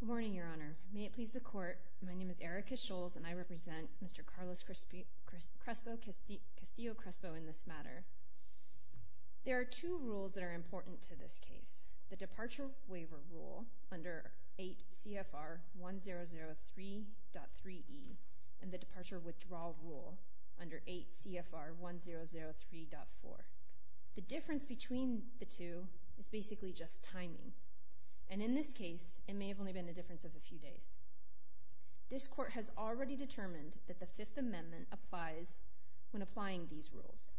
Good morning, Your Honor. May it please the Court, my name is Erika Scholz and I represent Mr. Carlos Castillo-Crespo in this matter. There are two rules that are important to this case, the Departure Waiver Rule under 8 CFR 1003.3e and the Departure Withdrawal Rule under 8 CFR 1003.4. The difference between the two is basically just timing, and in this case it may have only been a difference of a few days. This Court has already determined that the Fifth Amendment applies when applying these rules,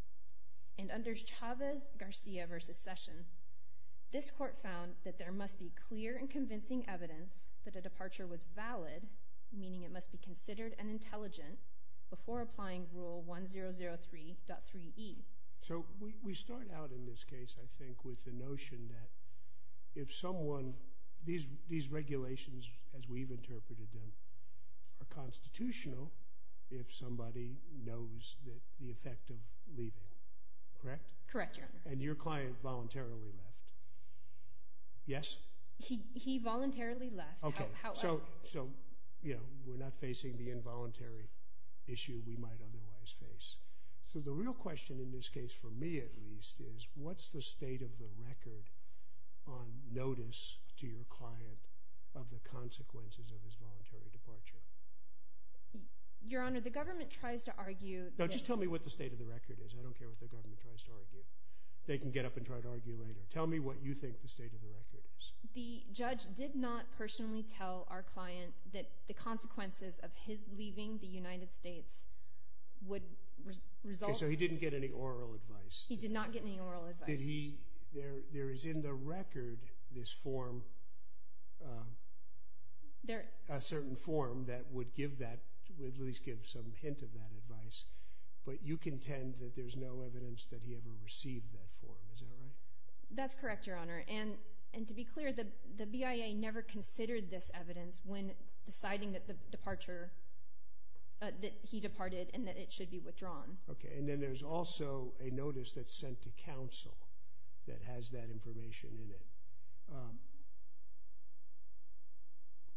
and under Chavez-Garcia v. Session, this Court found that there must be clear and convincing evidence that a departure was 1003.3e. So, we start out in this case, I think, with the notion that if someone, these regulations as we've interpreted them, are constitutional if somebody knows that the effect of leaving, correct? Correct, Your Honor. And your client voluntarily left, yes? He voluntarily left. So, you know, we're not facing the involuntary issue we might otherwise face. So the real question in this case, for me at least, is what's the state of the record on notice to your client of the consequences of his voluntary departure? Your Honor, the government tries to argue... No, just tell me what the state of the record is. I don't care what the government tries to argue. They can get up and try to argue later. Tell me what you think the state of the record is. The judge did not personally tell our client that the consequences of his leaving the United States would result... Okay, so he didn't get any oral advice? He did not get any oral advice. Did he, there is in the record this form, a certain form that would give that, would at least give some hint of that advice, but you contend that there's no evidence that he ever received that form, is that right? That's correct, Your Honor, and to be clear, the BIA never considered this evidence when deciding that the departure, that he departed and that it should be withdrawn. Okay, and then there's also a notice that's sent to counsel that has that information in it.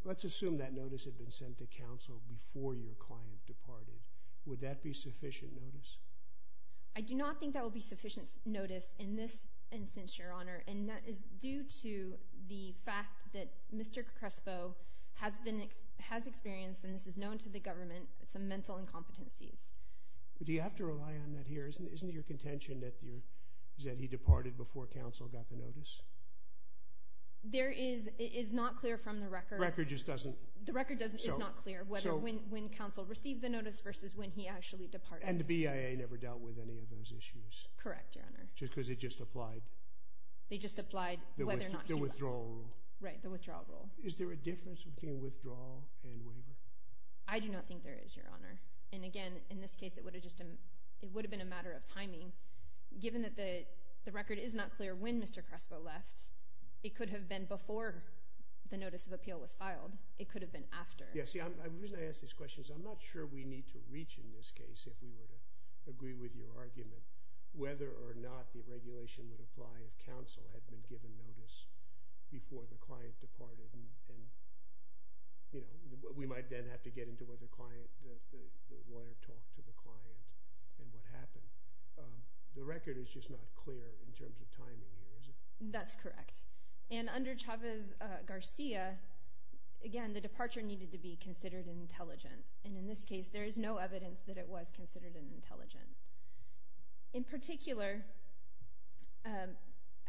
Let's assume that notice had been sent to counsel before your client departed. Would that be sufficient notice? I do not think that will be sufficient notice in this instance, Your Honor, and that is due to the fact that Mr. Crespo has been, has experienced, and this is known to the government, some mental incompetencies. Do you have to rely on that here? Isn't it your contention that your, that he departed before counsel got the notice? There is, it is not clear from the record. The record just doesn't... The record doesn't, it's not clear whether when, when counsel received the notice versus when he actually departed. And the BIA never dealt with any of those issues? Correct, Your Honor. Just because it just applied? They just applied whether or not... The withdrawal rule. Right, the withdrawal rule. Is there a difference between withdrawal and waiver? I do not think there is, Your Honor, and again, in this case, it would have just, it would have been a matter of timing. Given that the, the record is not clear when Mr. Crespo left, it could have been before the notice of the lawyer. The reason I ask these questions, I'm not sure we need to reach in this case, if we were to agree with your argument, whether or not the regulation would apply if counsel had been given notice before the client departed and, you know, we might then have to get into whether the client, the lawyer talked to the client and what happened. The record is just not clear in terms of timing here, is it? That's correct. And under Chavez-Garcia, again, the departure needed to be considered intelligent, and in this case, there is no evidence that it was considered an intelligent. In particular,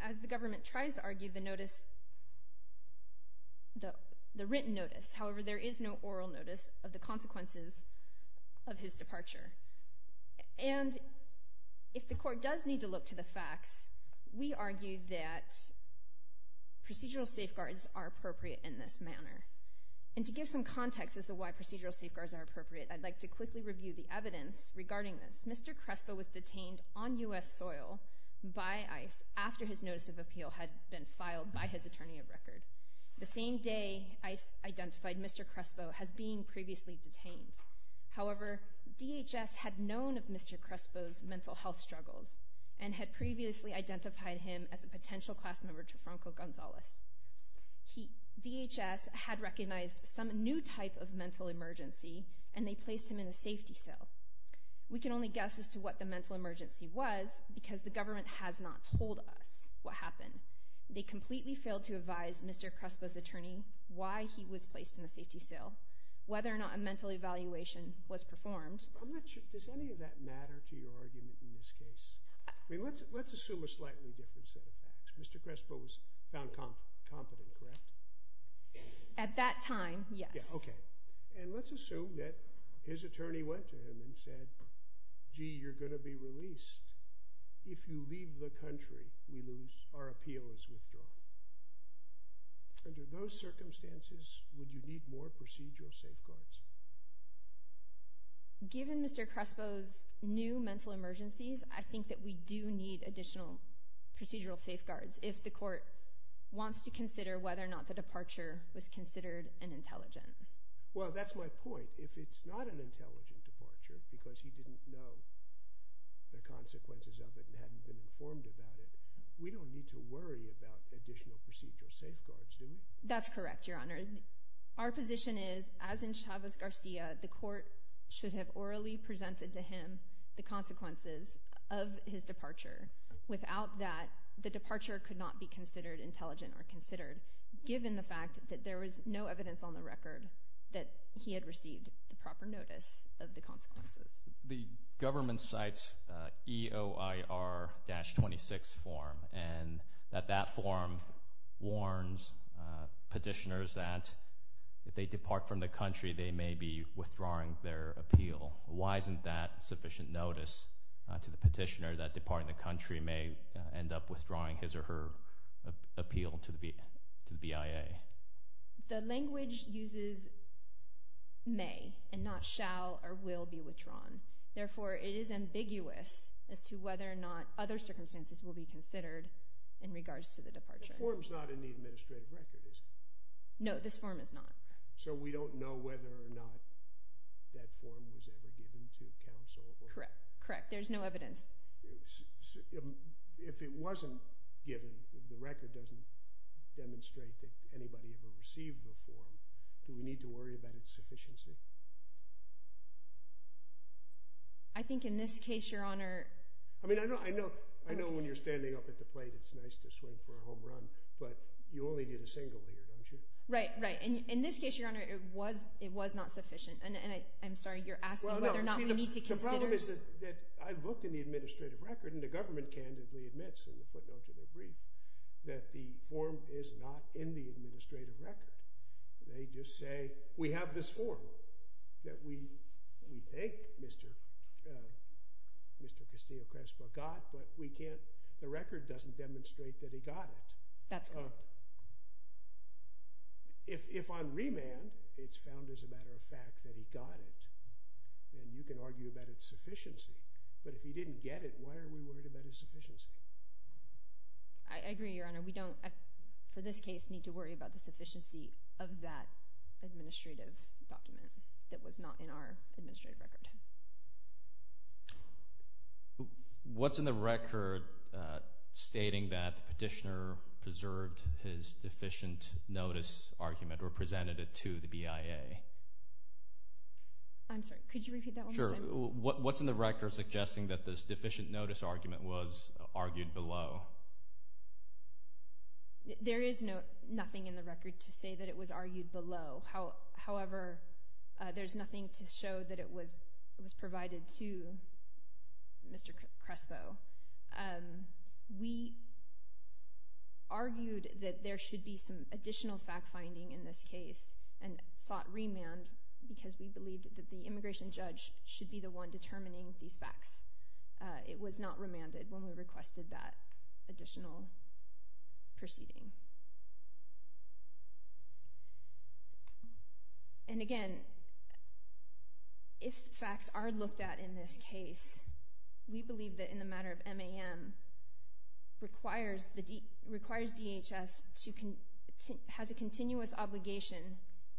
as the government tries to argue the notice, the written notice, however, there is no oral notice of the consequences of his departure. And if the court does need to look to the facts, we argue that procedural safeguards are appropriate in this manner. And to give some context as to why procedural safeguards are appropriate, I'd like to quickly review the evidence regarding this. Mr. Crespo was detained on U.S. soil by ICE after his notice of appeal had been filed by his attorney of record. The same day ICE identified Mr. Crespo as being previously detained. However, DHS had known of Mr. Crespo's mental health struggles and had previously identified him as a potential class franco-gonzalez. DHS had recognized some new type of mental emergency and they placed him in a safety cell. We can only guess as to what the mental emergency was because the government has not told us what happened. They completely failed to advise Mr. Crespo's attorney why he was placed in a safety cell, whether or not a mental evaluation was performed. Does any of that matter to your confidence? At that time, yes. Okay. And let's assume that his attorney went to him and said, gee, you're going to be released. If you leave the country, we lose. Our appeal is withdrawn. Under those circumstances, would you need more procedural safeguards? Given Mr. Crespo's new mental emergencies, I think that we do need additional procedural safeguards if the court wants to consider whether or not the departure was considered an intelligent. Well, that's my point. If it's not an intelligent departure because he didn't know the consequences of it and hadn't been informed about it, we don't need to worry about additional procedural safeguards, do we? That's correct, Your Honor. Our position is, as in Chavez-Garcia, the court should have orally presented to him the consequences of his departure. Without that, the departure could not be considered intelligent or considered, given the fact that there was no evidence on the record that he had received the proper notice of the consequences. The government cites EOIR-26 form, and that that form warns petitioners that if they depart from the country, they may be The language uses may and not shall or will be withdrawn. Therefore, it is ambiguous as to whether or not other circumstances will be considered in regards to the departure. The form's not in the administrative record, is it? No, this form is not. So we don't know whether or not that form was ever given to counsel? Correct, correct. There's no evidence. If it wasn't given, the record doesn't demonstrate that anybody ever received the form, do we need to worry about its sufficiency? I think in this case, Your Honor... I mean, I know when you're standing up at the plate, it's nice to swing for a home run, but you only did a single here, don't you? Right, right. In this case, Your Honor, it was not sufficient. And I'm sorry, you're asking whether or not we need to consider... Well, no. The problem is that I've looked in the administrative record, and the government candidly admits in the footnote to their brief that the form is not in the administrative record. They just say, we have this form that we thank Mr. Castillo-Crespo got, but we can't... The record doesn't demonstrate that he got it. That's correct. If on remand, it's found as a matter of fact that he got it, then you can argue about its sufficiency. But if he didn't get it, why are we worried about his sufficiency? I agree, Your Honor. We don't, for this case, need to worry about the sufficiency of that administrative document that was not in our administrative record. What's in the record stating that the petitioner preserved his deficient notice argument, or presented it to the BIA? I'm sorry, could you repeat that one more time? Sure. What's in the record suggesting that this deficient notice argument was argued below? There is nothing in the record to say that it was argued below. However, there's nothing to show that it was provided to Mr. Crespo. We argued that there should be some additional fact-finding in this case, and sought remand because we believed that the immigration judge should be the one determining these facts. It was not remanded when we requested that additional proceeding. And again, if facts are looked at in this case, we believe that in the matter of MAM, requires DHS has a continuous obligation,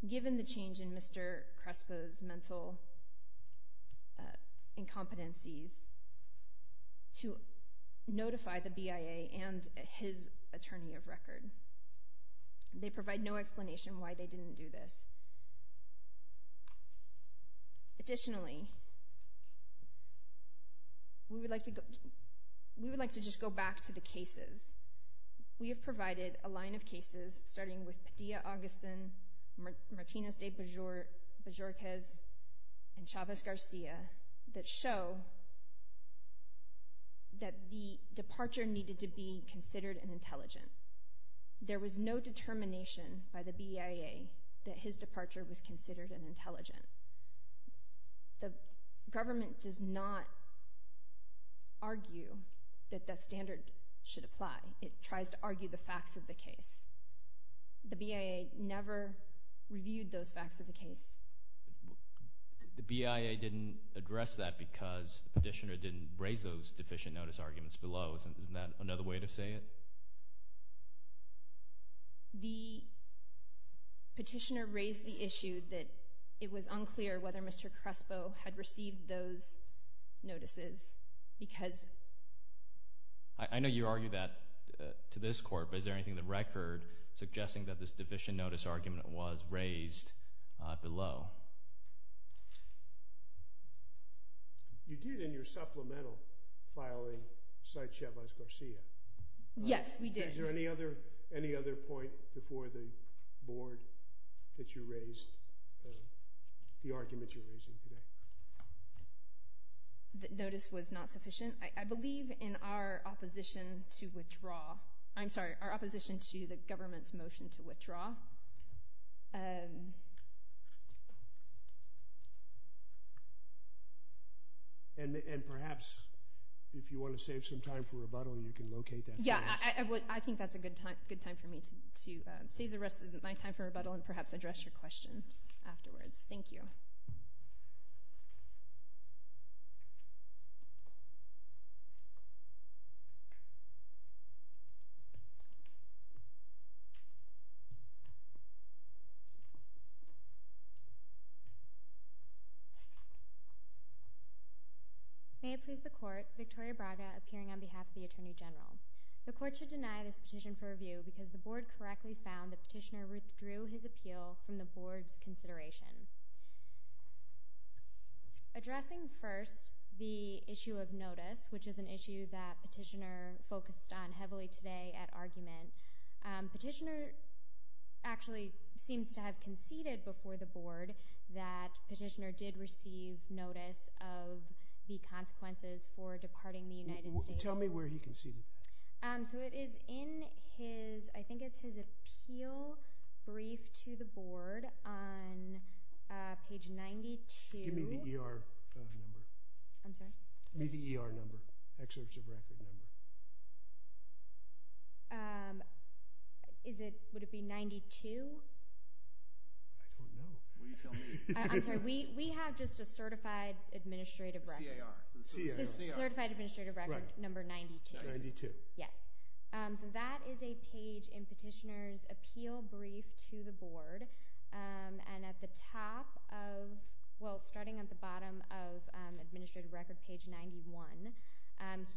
given the change in Mr. Crespo's mental incompetencies, to notify the BIA and his attorney of record. They provide no explanation why they didn't do this. Additionally, we would like to just go back to the cases. We have provided a line of cases, starting with Padilla-Augustin, Martinez de Bajorquez, and Chavez-Garcia, that show that the departure needed to be considered an intelligent. There was no determination by the BIA that his departure was considered an intelligent. The government does not argue that that standard should apply. It tries to argue the facts of the case. The BIA never reviewed those facts of the case. The BIA didn't address that because the petitioner didn't raise those deficient notice arguments below. Isn't that another way to say it? The petitioner raised the issue that it was unclear whether Mr. Crespo had received those notices. I know you argue that to this court, but is there anything in the record suggesting that this deficient notice argument was raised below? You did in your supplemental filing cite Chavez-Garcia. Yes, we did. Is there any other point before the board that you raised, the argument you're raising today? Notice was not sufficient. I believe in our opposition to withdraw. I'm sorry, our opposition to the government's motion to withdraw. And perhaps if you want to save some time for rebuttal, you can locate that. Yeah, I think that's a good time for me to save the rest of my time for rebuttal and perhaps address your question afterwards. Thank you. May it please the court, Victoria Braga appearing on behalf of the Attorney General. The court should deny this petition for review because the board correctly found the petitioner withdrew his appeal from the board's consideration. Addressing first the issue of notice, which is an issue that petitioner focused on heavily today at argument, petitioner actually seems to have conceded before the board that petitioner did receive notice of the consequences for departing the United States. Tell me where he conceded that. So it is in his, I think it's his appeal brief to the board on page 92. Give me the ER number. I'm sorry? Give me the ER number, excerpt of record number. Is it, would it be 92? I don't know. Will you tell me? I'm sorry, we have just a certified administrative record. C-A-R, C-A-R. Certified administrative record number 92. Yes. So that is a page in petitioner's appeal brief to the board. And at the top of, well, starting at the bottom of administrative record page 91,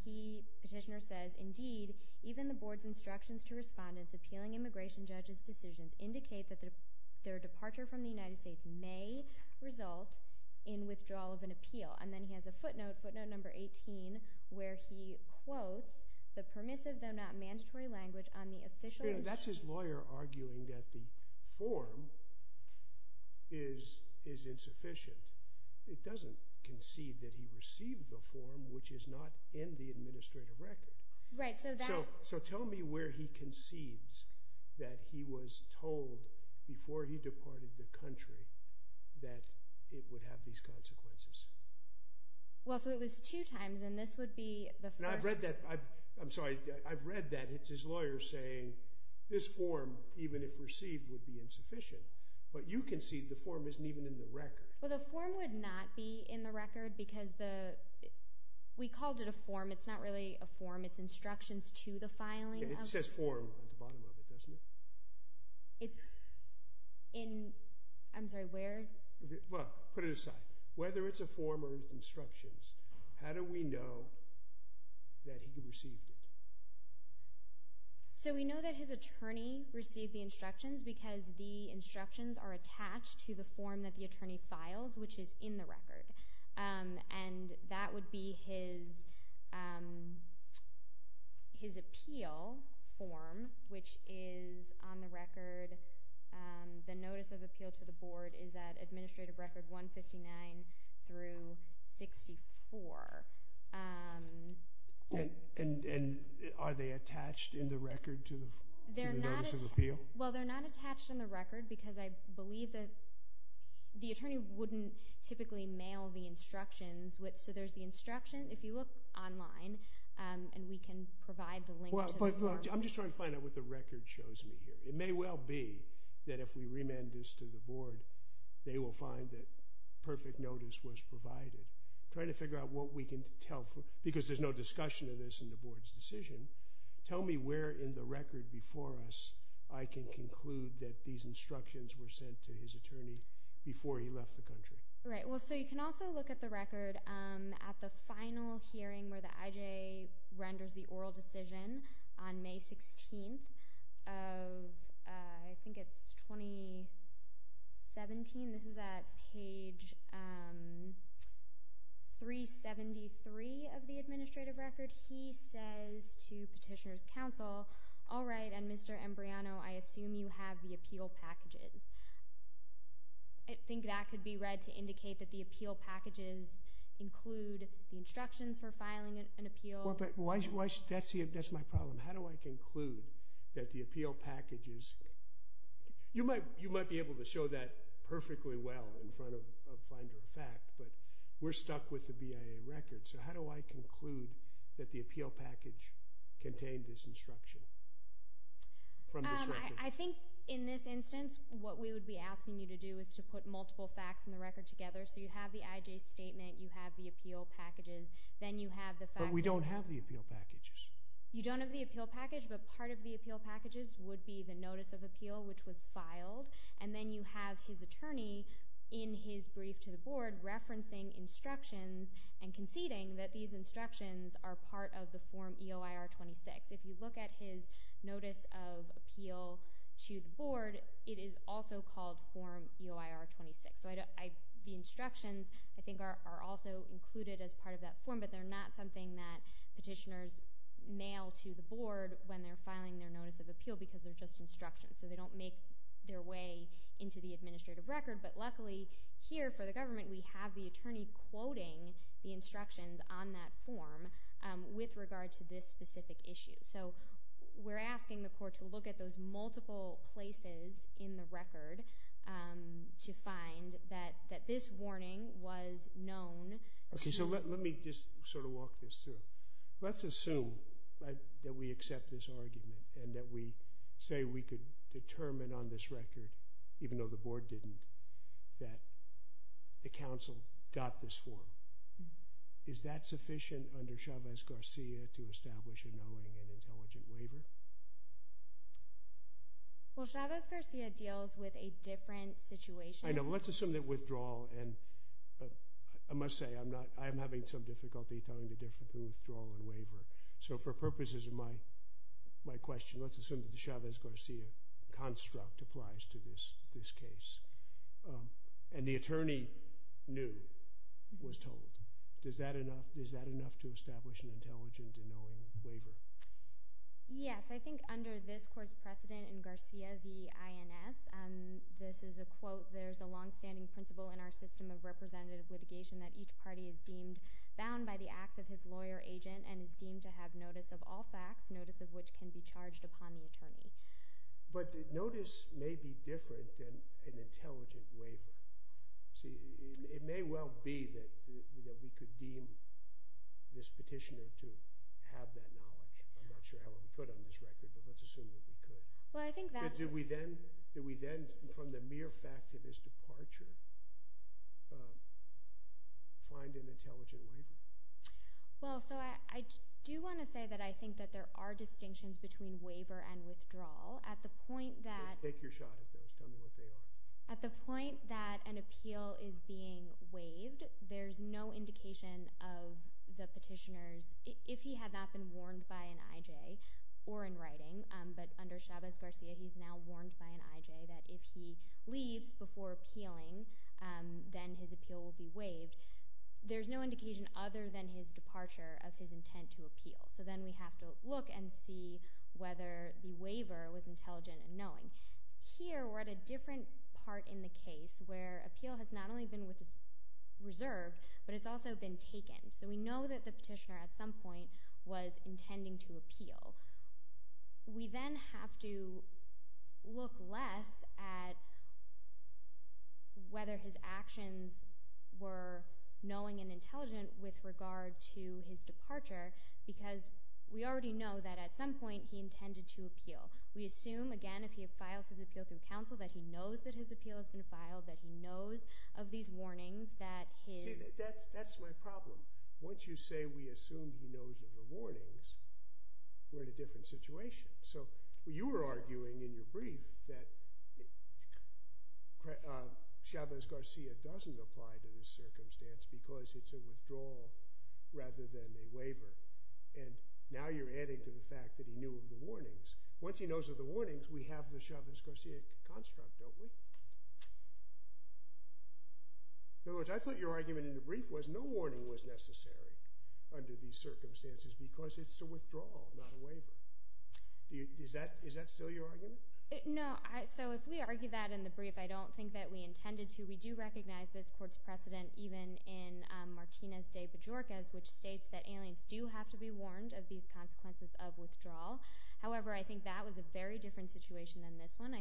he, petitioner says, indeed, even the board's instructions to respondents appealing immigration judge's decisions indicate that their departure from the United States may result in withdrawal of an appeal. And then he has a footnote, footnote number 18, where he quotes the permissive though not mandatory language on the official. That's his lawyer arguing that the form is, is insufficient. It doesn't concede that he received the form, which is not in the administrative record. Right, so that. So, so tell me where he concedes that he was told before he departed the country that it would have these consequences. Well, so it was two times, and this would be the first. And I've read that, I, I'm sorry, I've read that. It's his lawyer saying this form, even if received, would be insufficient. But you concede the form isn't even in the record. Well, the form would not be in the record because the, we called it a form. It's not really a form. It's instructions to the filing. It says form at the bottom of it, doesn't it? It's in, I'm sorry, where? Well, put it aside. Whether it's a form or it's instructions, how do we know that he received it? So we know that his attorney received the instructions because the instructions are attached to the form that the attorney files, which is in the record. And that would be his, his appeal form, which is on the record. The notice of appeal to the board is that administrative record 159 through 64. And, and, and are they attached in the record to the notice of appeal? Well, they're not attached in the record because I believe that the attorney wouldn't typically mail the instructions with, so there's the instruction. If you look online, and we can provide the link. But I'm just trying to find out what the record shows me here. It may well be that if we remand this to the board, they will find that perfect notice was provided. Trying to figure out what we can tell for, because there's no discussion of this in the board's decision. Tell me where in the record before us I can conclude that these instructions were sent to his attorney before he left the country. Right, well, so you can also look at the record at the final hearing where the IJ renders the oral decision on May 16th of, I think it's 2017. This is at page 373 of the administrative record. He says to petitioner's counsel, all right, and Mr. Embriano, I assume you have the appeal packages. I think that could be read to indicate that the appeal packages include the instructions for filing an appeal. Well, but that's my problem. How do I conclude that the appeal packages, you might be able to show that perfectly well in front of finder of fact, but we're stuck with the BIA record. So how do I conclude that the appeal package contained this instruction? I think in this instance, what we would be asking you to do is to put multiple facts in the record together. So you have the IJ statement, you have the appeal packages, then you have the facts. But we don't have the appeal packages. You don't have the appeal package, but part of the appeal packages would be the notice of appeal, which was filed. And then you have his attorney in his brief to the board referencing instructions and conceding that these instructions are part of the form EOIR-26. If you look at his notice of appeal to the board, it is also called form EOIR-26. The instructions, I think, are also included as part of that form, but they're not something that petitioners mail to the board when they're filing their notice of appeal because they're just instructions. So they don't make their way into the administrative record. But luckily here for the government, we have the attorney quoting the instructions on that form with regard to this specific issue. So we're asking the court to look at those multiple places in the record and to find that this warning was known. Okay, so let me just sort of walk this through. Let's assume that we accept this argument and that we say we could determine on this record, even though the board didn't, that the council got this form. Is that sufficient under Chavez-Garcia to establish a knowing and intelligent waiver? Well, Chavez-Garcia deals with a different situation. I know. Let's assume that withdrawal and I must say, I'm not, I'm having some difficulty telling the difference between withdrawal and waiver. So for purposes of my question, let's assume that the Chavez-Garcia construct applies to this case. And the attorney knew, was told. Is that enough to establish an intelligent and knowing waiver? Yes, I think under this court's precedent in Garcia v. INS, this is a quote, there's a longstanding principle in our system of representative litigation that each party is deemed bound by the acts of his lawyer agent and is deemed to have notice of all facts, notice of which can be charged upon the attorney. But the notice may be different than an intelligent waiver. See, it may well be that we could deem this petitioner to have that knowledge. I'm not sure how well we could on this record, but let's assume that we could. Well, I think that... Did we then, from the mere fact of his departure, find an intelligent waiver? Well, so I do want to say that I think that there are distinctions between waiver and withdrawal. At the point that... Take your shot at those, tell me what they are. At the point that an appeal is being waived, there's no indication of the petitioners, if he had not been warned by an IJ or in writing, but under Chavez-Garcia, he's now warned by an IJ that if he leaves before appealing, then his appeal will be waived. There's no indication other than his departure of his intent to appeal. So then we have to look and see whether the waiver was intelligent and knowing. Here, we're at a different part in the case where appeal has not only been reserved, but it's also been taken. So we know that the petitioner, at some point, was intending to appeal. We then have to look less at whether his actions were knowing and intelligent with regard to his departure because we already know that, at some point, he intended to appeal. We assume, again, if he files his appeal through counsel, that he knows that his appeal has been filed, that he knows of these warnings, that his... That's my problem. Once you say we assume he knows of the warnings, we're in a different situation. So you were arguing in your brief that Chavez-Garcia doesn't apply to this circumstance because it's a withdrawal rather than a waiver. And now you're adding to the fact that he knew of the warnings. Once he knows of the warnings, we have the Chavez-Garcia construct, don't we? In other words, I thought your argument in the brief was no warning was necessary under these circumstances because it's a withdrawal, not a waiver. Is that still your argument? No. So if we argue that in the brief, I don't think that we intended to. We do recognize this court's precedent, even in Martinez de Bajorquez, which states that aliens do have to be warned of these consequences of withdrawal. However, I think that was a very different situation than this one.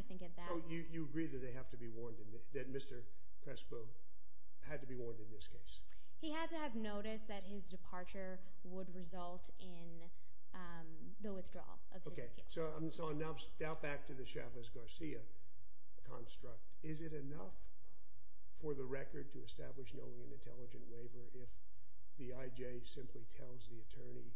So you agree that they have to be warned, that Mr. Crespo had to be warned in this case? He had to have noticed that his departure would result in the withdrawal of his appeal. So now back to the Chavez-Garcia construct. Is it enough for the record to establish knowing an intelligent waiver if the IJ simply tells the attorney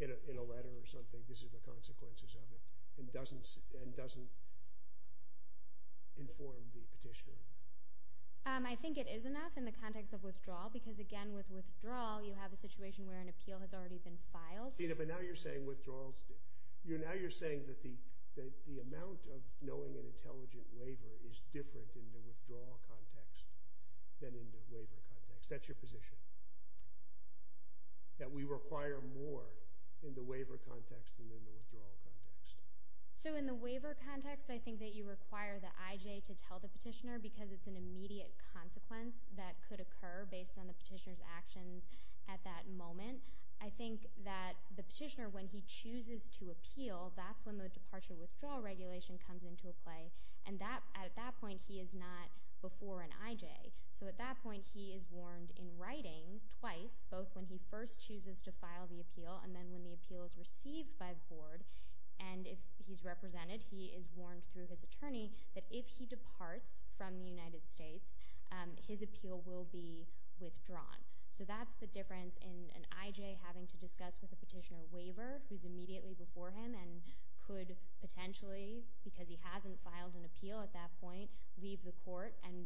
in a letter or something this is the consequences of it and doesn't inform the petitioner? I think it is enough in the context of withdrawal because, again, with withdrawal, you have a situation where an appeal has already been filed. But now you're saying withdrawals... Now you're saying that the amount of knowing an intelligent waiver is different in the withdrawal context than in the waiver context. That's your position, that we require more in the waiver context than in the withdrawal context. So in the waiver context, I think that you require the IJ to tell the petitioner because it's an immediate consequence that could occur based on the petitioner's actions at that moment. I think that the petitioner, when he chooses to appeal, that's when the departure withdrawal regulation comes into a play. And at that point, he is not before an IJ. So at that point, he is warned in writing twice, both when he first chooses to file the appeal and then when the appeal is received by the board. And if he's represented, he is warned through his attorney that if he departs from the United States, his appeal will be withdrawn. So that's the difference in an IJ having to discuss with a petitioner waiver who's immediately before him and could potentially, because he hasn't filed an appeal at that point, leave the court and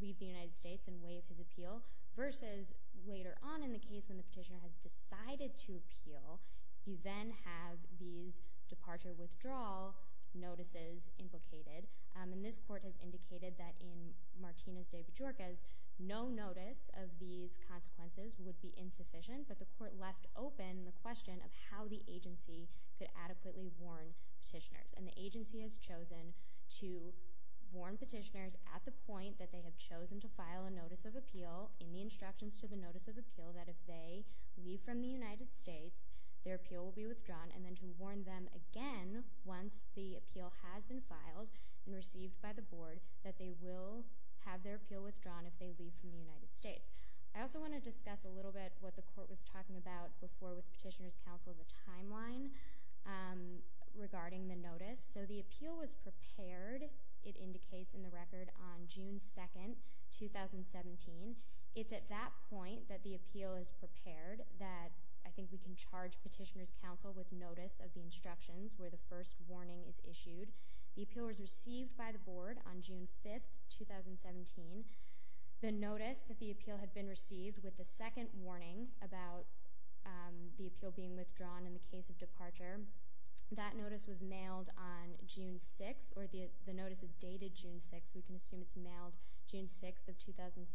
leave the United States and waive his appeal versus later on in the case when the petitioner has decided to appeal, you then have these departure withdrawal notices implicated. And this court has indicated that in Martinez-DePujarquez, no notice of these consequences would be insufficient, but the court left open the question of how the agency could adequately warn petitioners. And the agency has chosen to warn petitioners at the point that they have chosen to file a notice of appeal in the instructions to the notice of appeal that if they leave from the United States, their appeal will be withdrawn, and then to warn them again once the appeal has been filed and received by the board that they will have their appeal withdrawn if they leave from the United States. I also want to discuss a little bit what the court was talking about before with Petitioner's Counsel, the timeline regarding the notice. So the appeal was prepared, it indicates in the record, on June 2nd, 2017. It's at that point that the appeal is prepared that I think we can charge Petitioner's Counsel with notice of the instructions where the first warning is issued. The appeal was received by the board on June 5th, 2017. The notice that the appeal had been received with the second warning about the appeal being withdrawn in the case of departure, that notice was mailed on June 6th, or the notice is dated June 6th, we can assume it's mailed June 6th of 2017.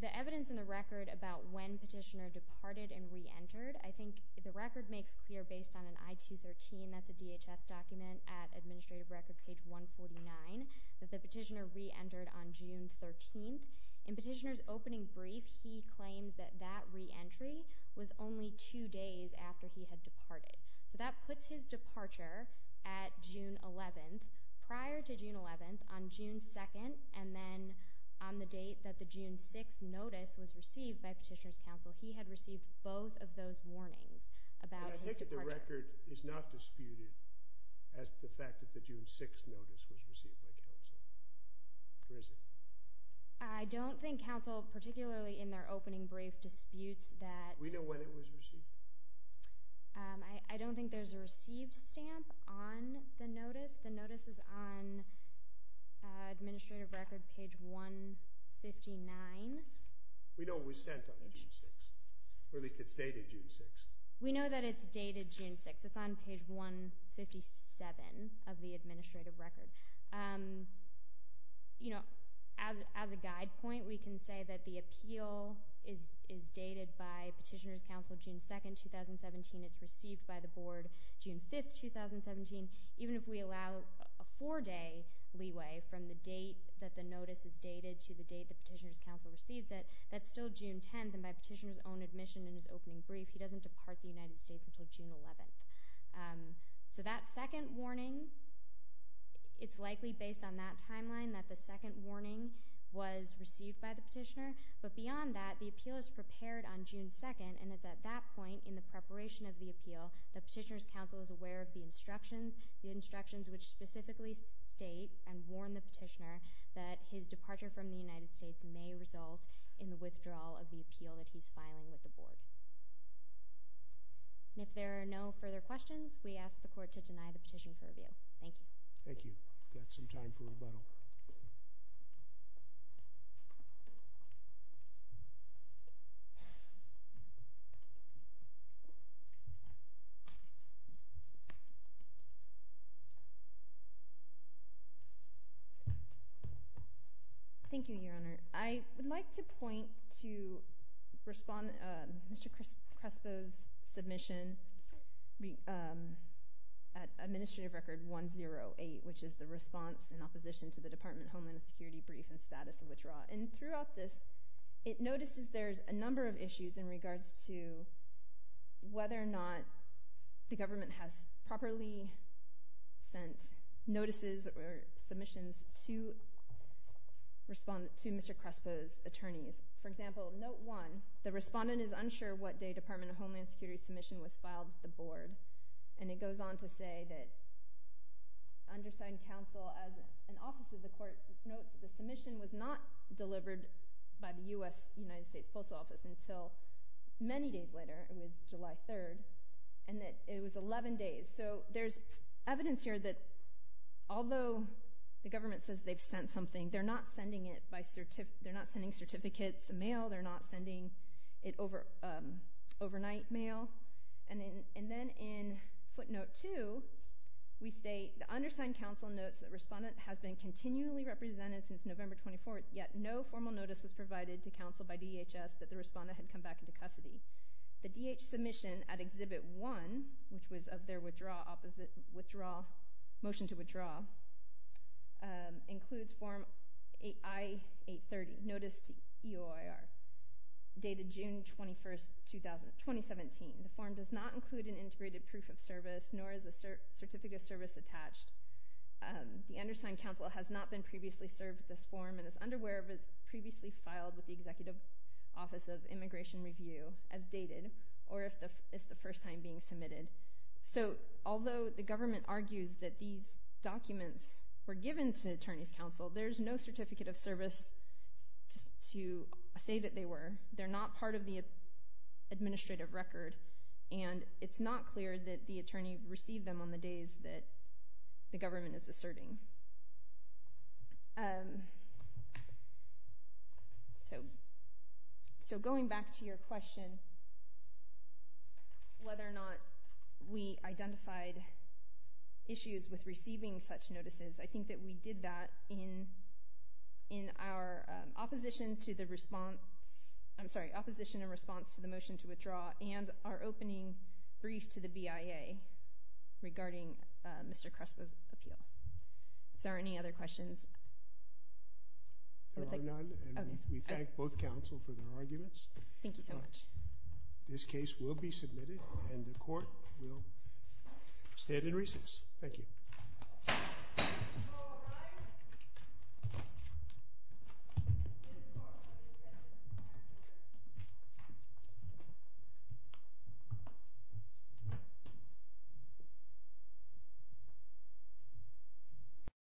The evidence in the record about when Petitioner departed and re-entered, I think the record makes clear based on an I-213, that's a DHS document at Administrative Record, page 149, that the Petitioner re-entered on June 13th. In Petitioner's opening brief, he claims that that re-entry was only two days after he had departed. So that puts his departure at June 11th. Prior to June 11th, on June 2nd, and then on the date that the June 6th notice was received by Petitioner's Counsel, he had received both of those warnings about his departure. But I think that the record is not disputed as the fact that the June 6th notice was received by Counsel. Or is it? I don't think Counsel, particularly in their opening brief, disputes that... We know when it was received. I don't think there's a received stamp on the notice. The notice is on Administrative Record, page 159. We know it was sent on June 6th. Or at least it's dated June 6th. We know that it's dated June 6th. It's on page 157 of the Administrative Record. You know, as a guide point, we can say that the appeal is dated by Petitioner's Counsel, June 2nd, 2017. It's received by the Board, June 5th, 2017. Even if we allow a four-day leeway from the date that the notice is dated to the date that Petitioner's Counsel receives it, that's still June 10th. And by Petitioner's own admission in his opening brief, he doesn't depart the United States until June 11th. So that second warning, it's likely based on that timeline that the second warning was received by the Petitioner. But beyond that, the appeal is prepared on June 2nd. And it's at that point in the preparation of the appeal that Petitioner's Counsel is aware of the instructions, the instructions which specifically state and warn the Petitioner that his departure from the United States may result in the withdrawal of the appeal that he's filing with the Board. And if there are no further questions, we ask the Court to deny the petition for review. Thank you. Thank you. Got some time for rebuttal. Thank you, Your Honor. I would like to point to Mr. Crespo's submission at Administrative Record 108, which is the response in opposition to the Department of Homeland Security brief and status of withdrawal. And throughout this, it notices there's a number of issues in regards to whether or not the government has properly sent notices or submissions to respond to Mr. Crespo's attorneys. For example, note one, the respondent is unsure what day Department of Homeland Security submission was filed with the Board. And it goes on to say that undersigned counsel as an office of the Court notes that the submission was not delivered by the U.S. United States Postal Office until many days later. It was July 3rd. And that it was 11 days. So there's evidence here that although the government says they've sent something, they're not sending it by certificate. They're not sending certificates mail. They're not sending it overnight mail. And then in footnote two, we state the undersigned counsel notes that respondent has been continually represented since November 24th, yet no formal notice was provided to counsel by DHS that the respondent had come back into custody. The DH submission at Exhibit 1, which was of their motion to withdraw, includes Form I-830, Notice to EOIR, dated June 21st, 2017. The form does not include an integrated proof of service, nor is a certificate of service attached. The undersigned counsel has not been previously served with this form and is unaware of it's previously filed with the Executive Office of Immigration Review. Or if it's the first time being submitted. So although the government argues that these documents were given to attorneys counsel, there's no certificate of service to say that they were. They're not part of the administrative record. And it's not clear that the attorney received them on the days that the government is asserting. So going back to your question, whether or not we identified issues with receiving such notices, I think that we did that in our opposition to the response, I'm sorry, opposition and response to the motion to withdraw, and our opening brief to the BIA regarding Mr. Kresko's appeal. Is there any other questions? There are none, and we thank both counsel for their arguments. Thank you so much. This case will be submitted, and the court will stand in recess. Thank you. Thank you.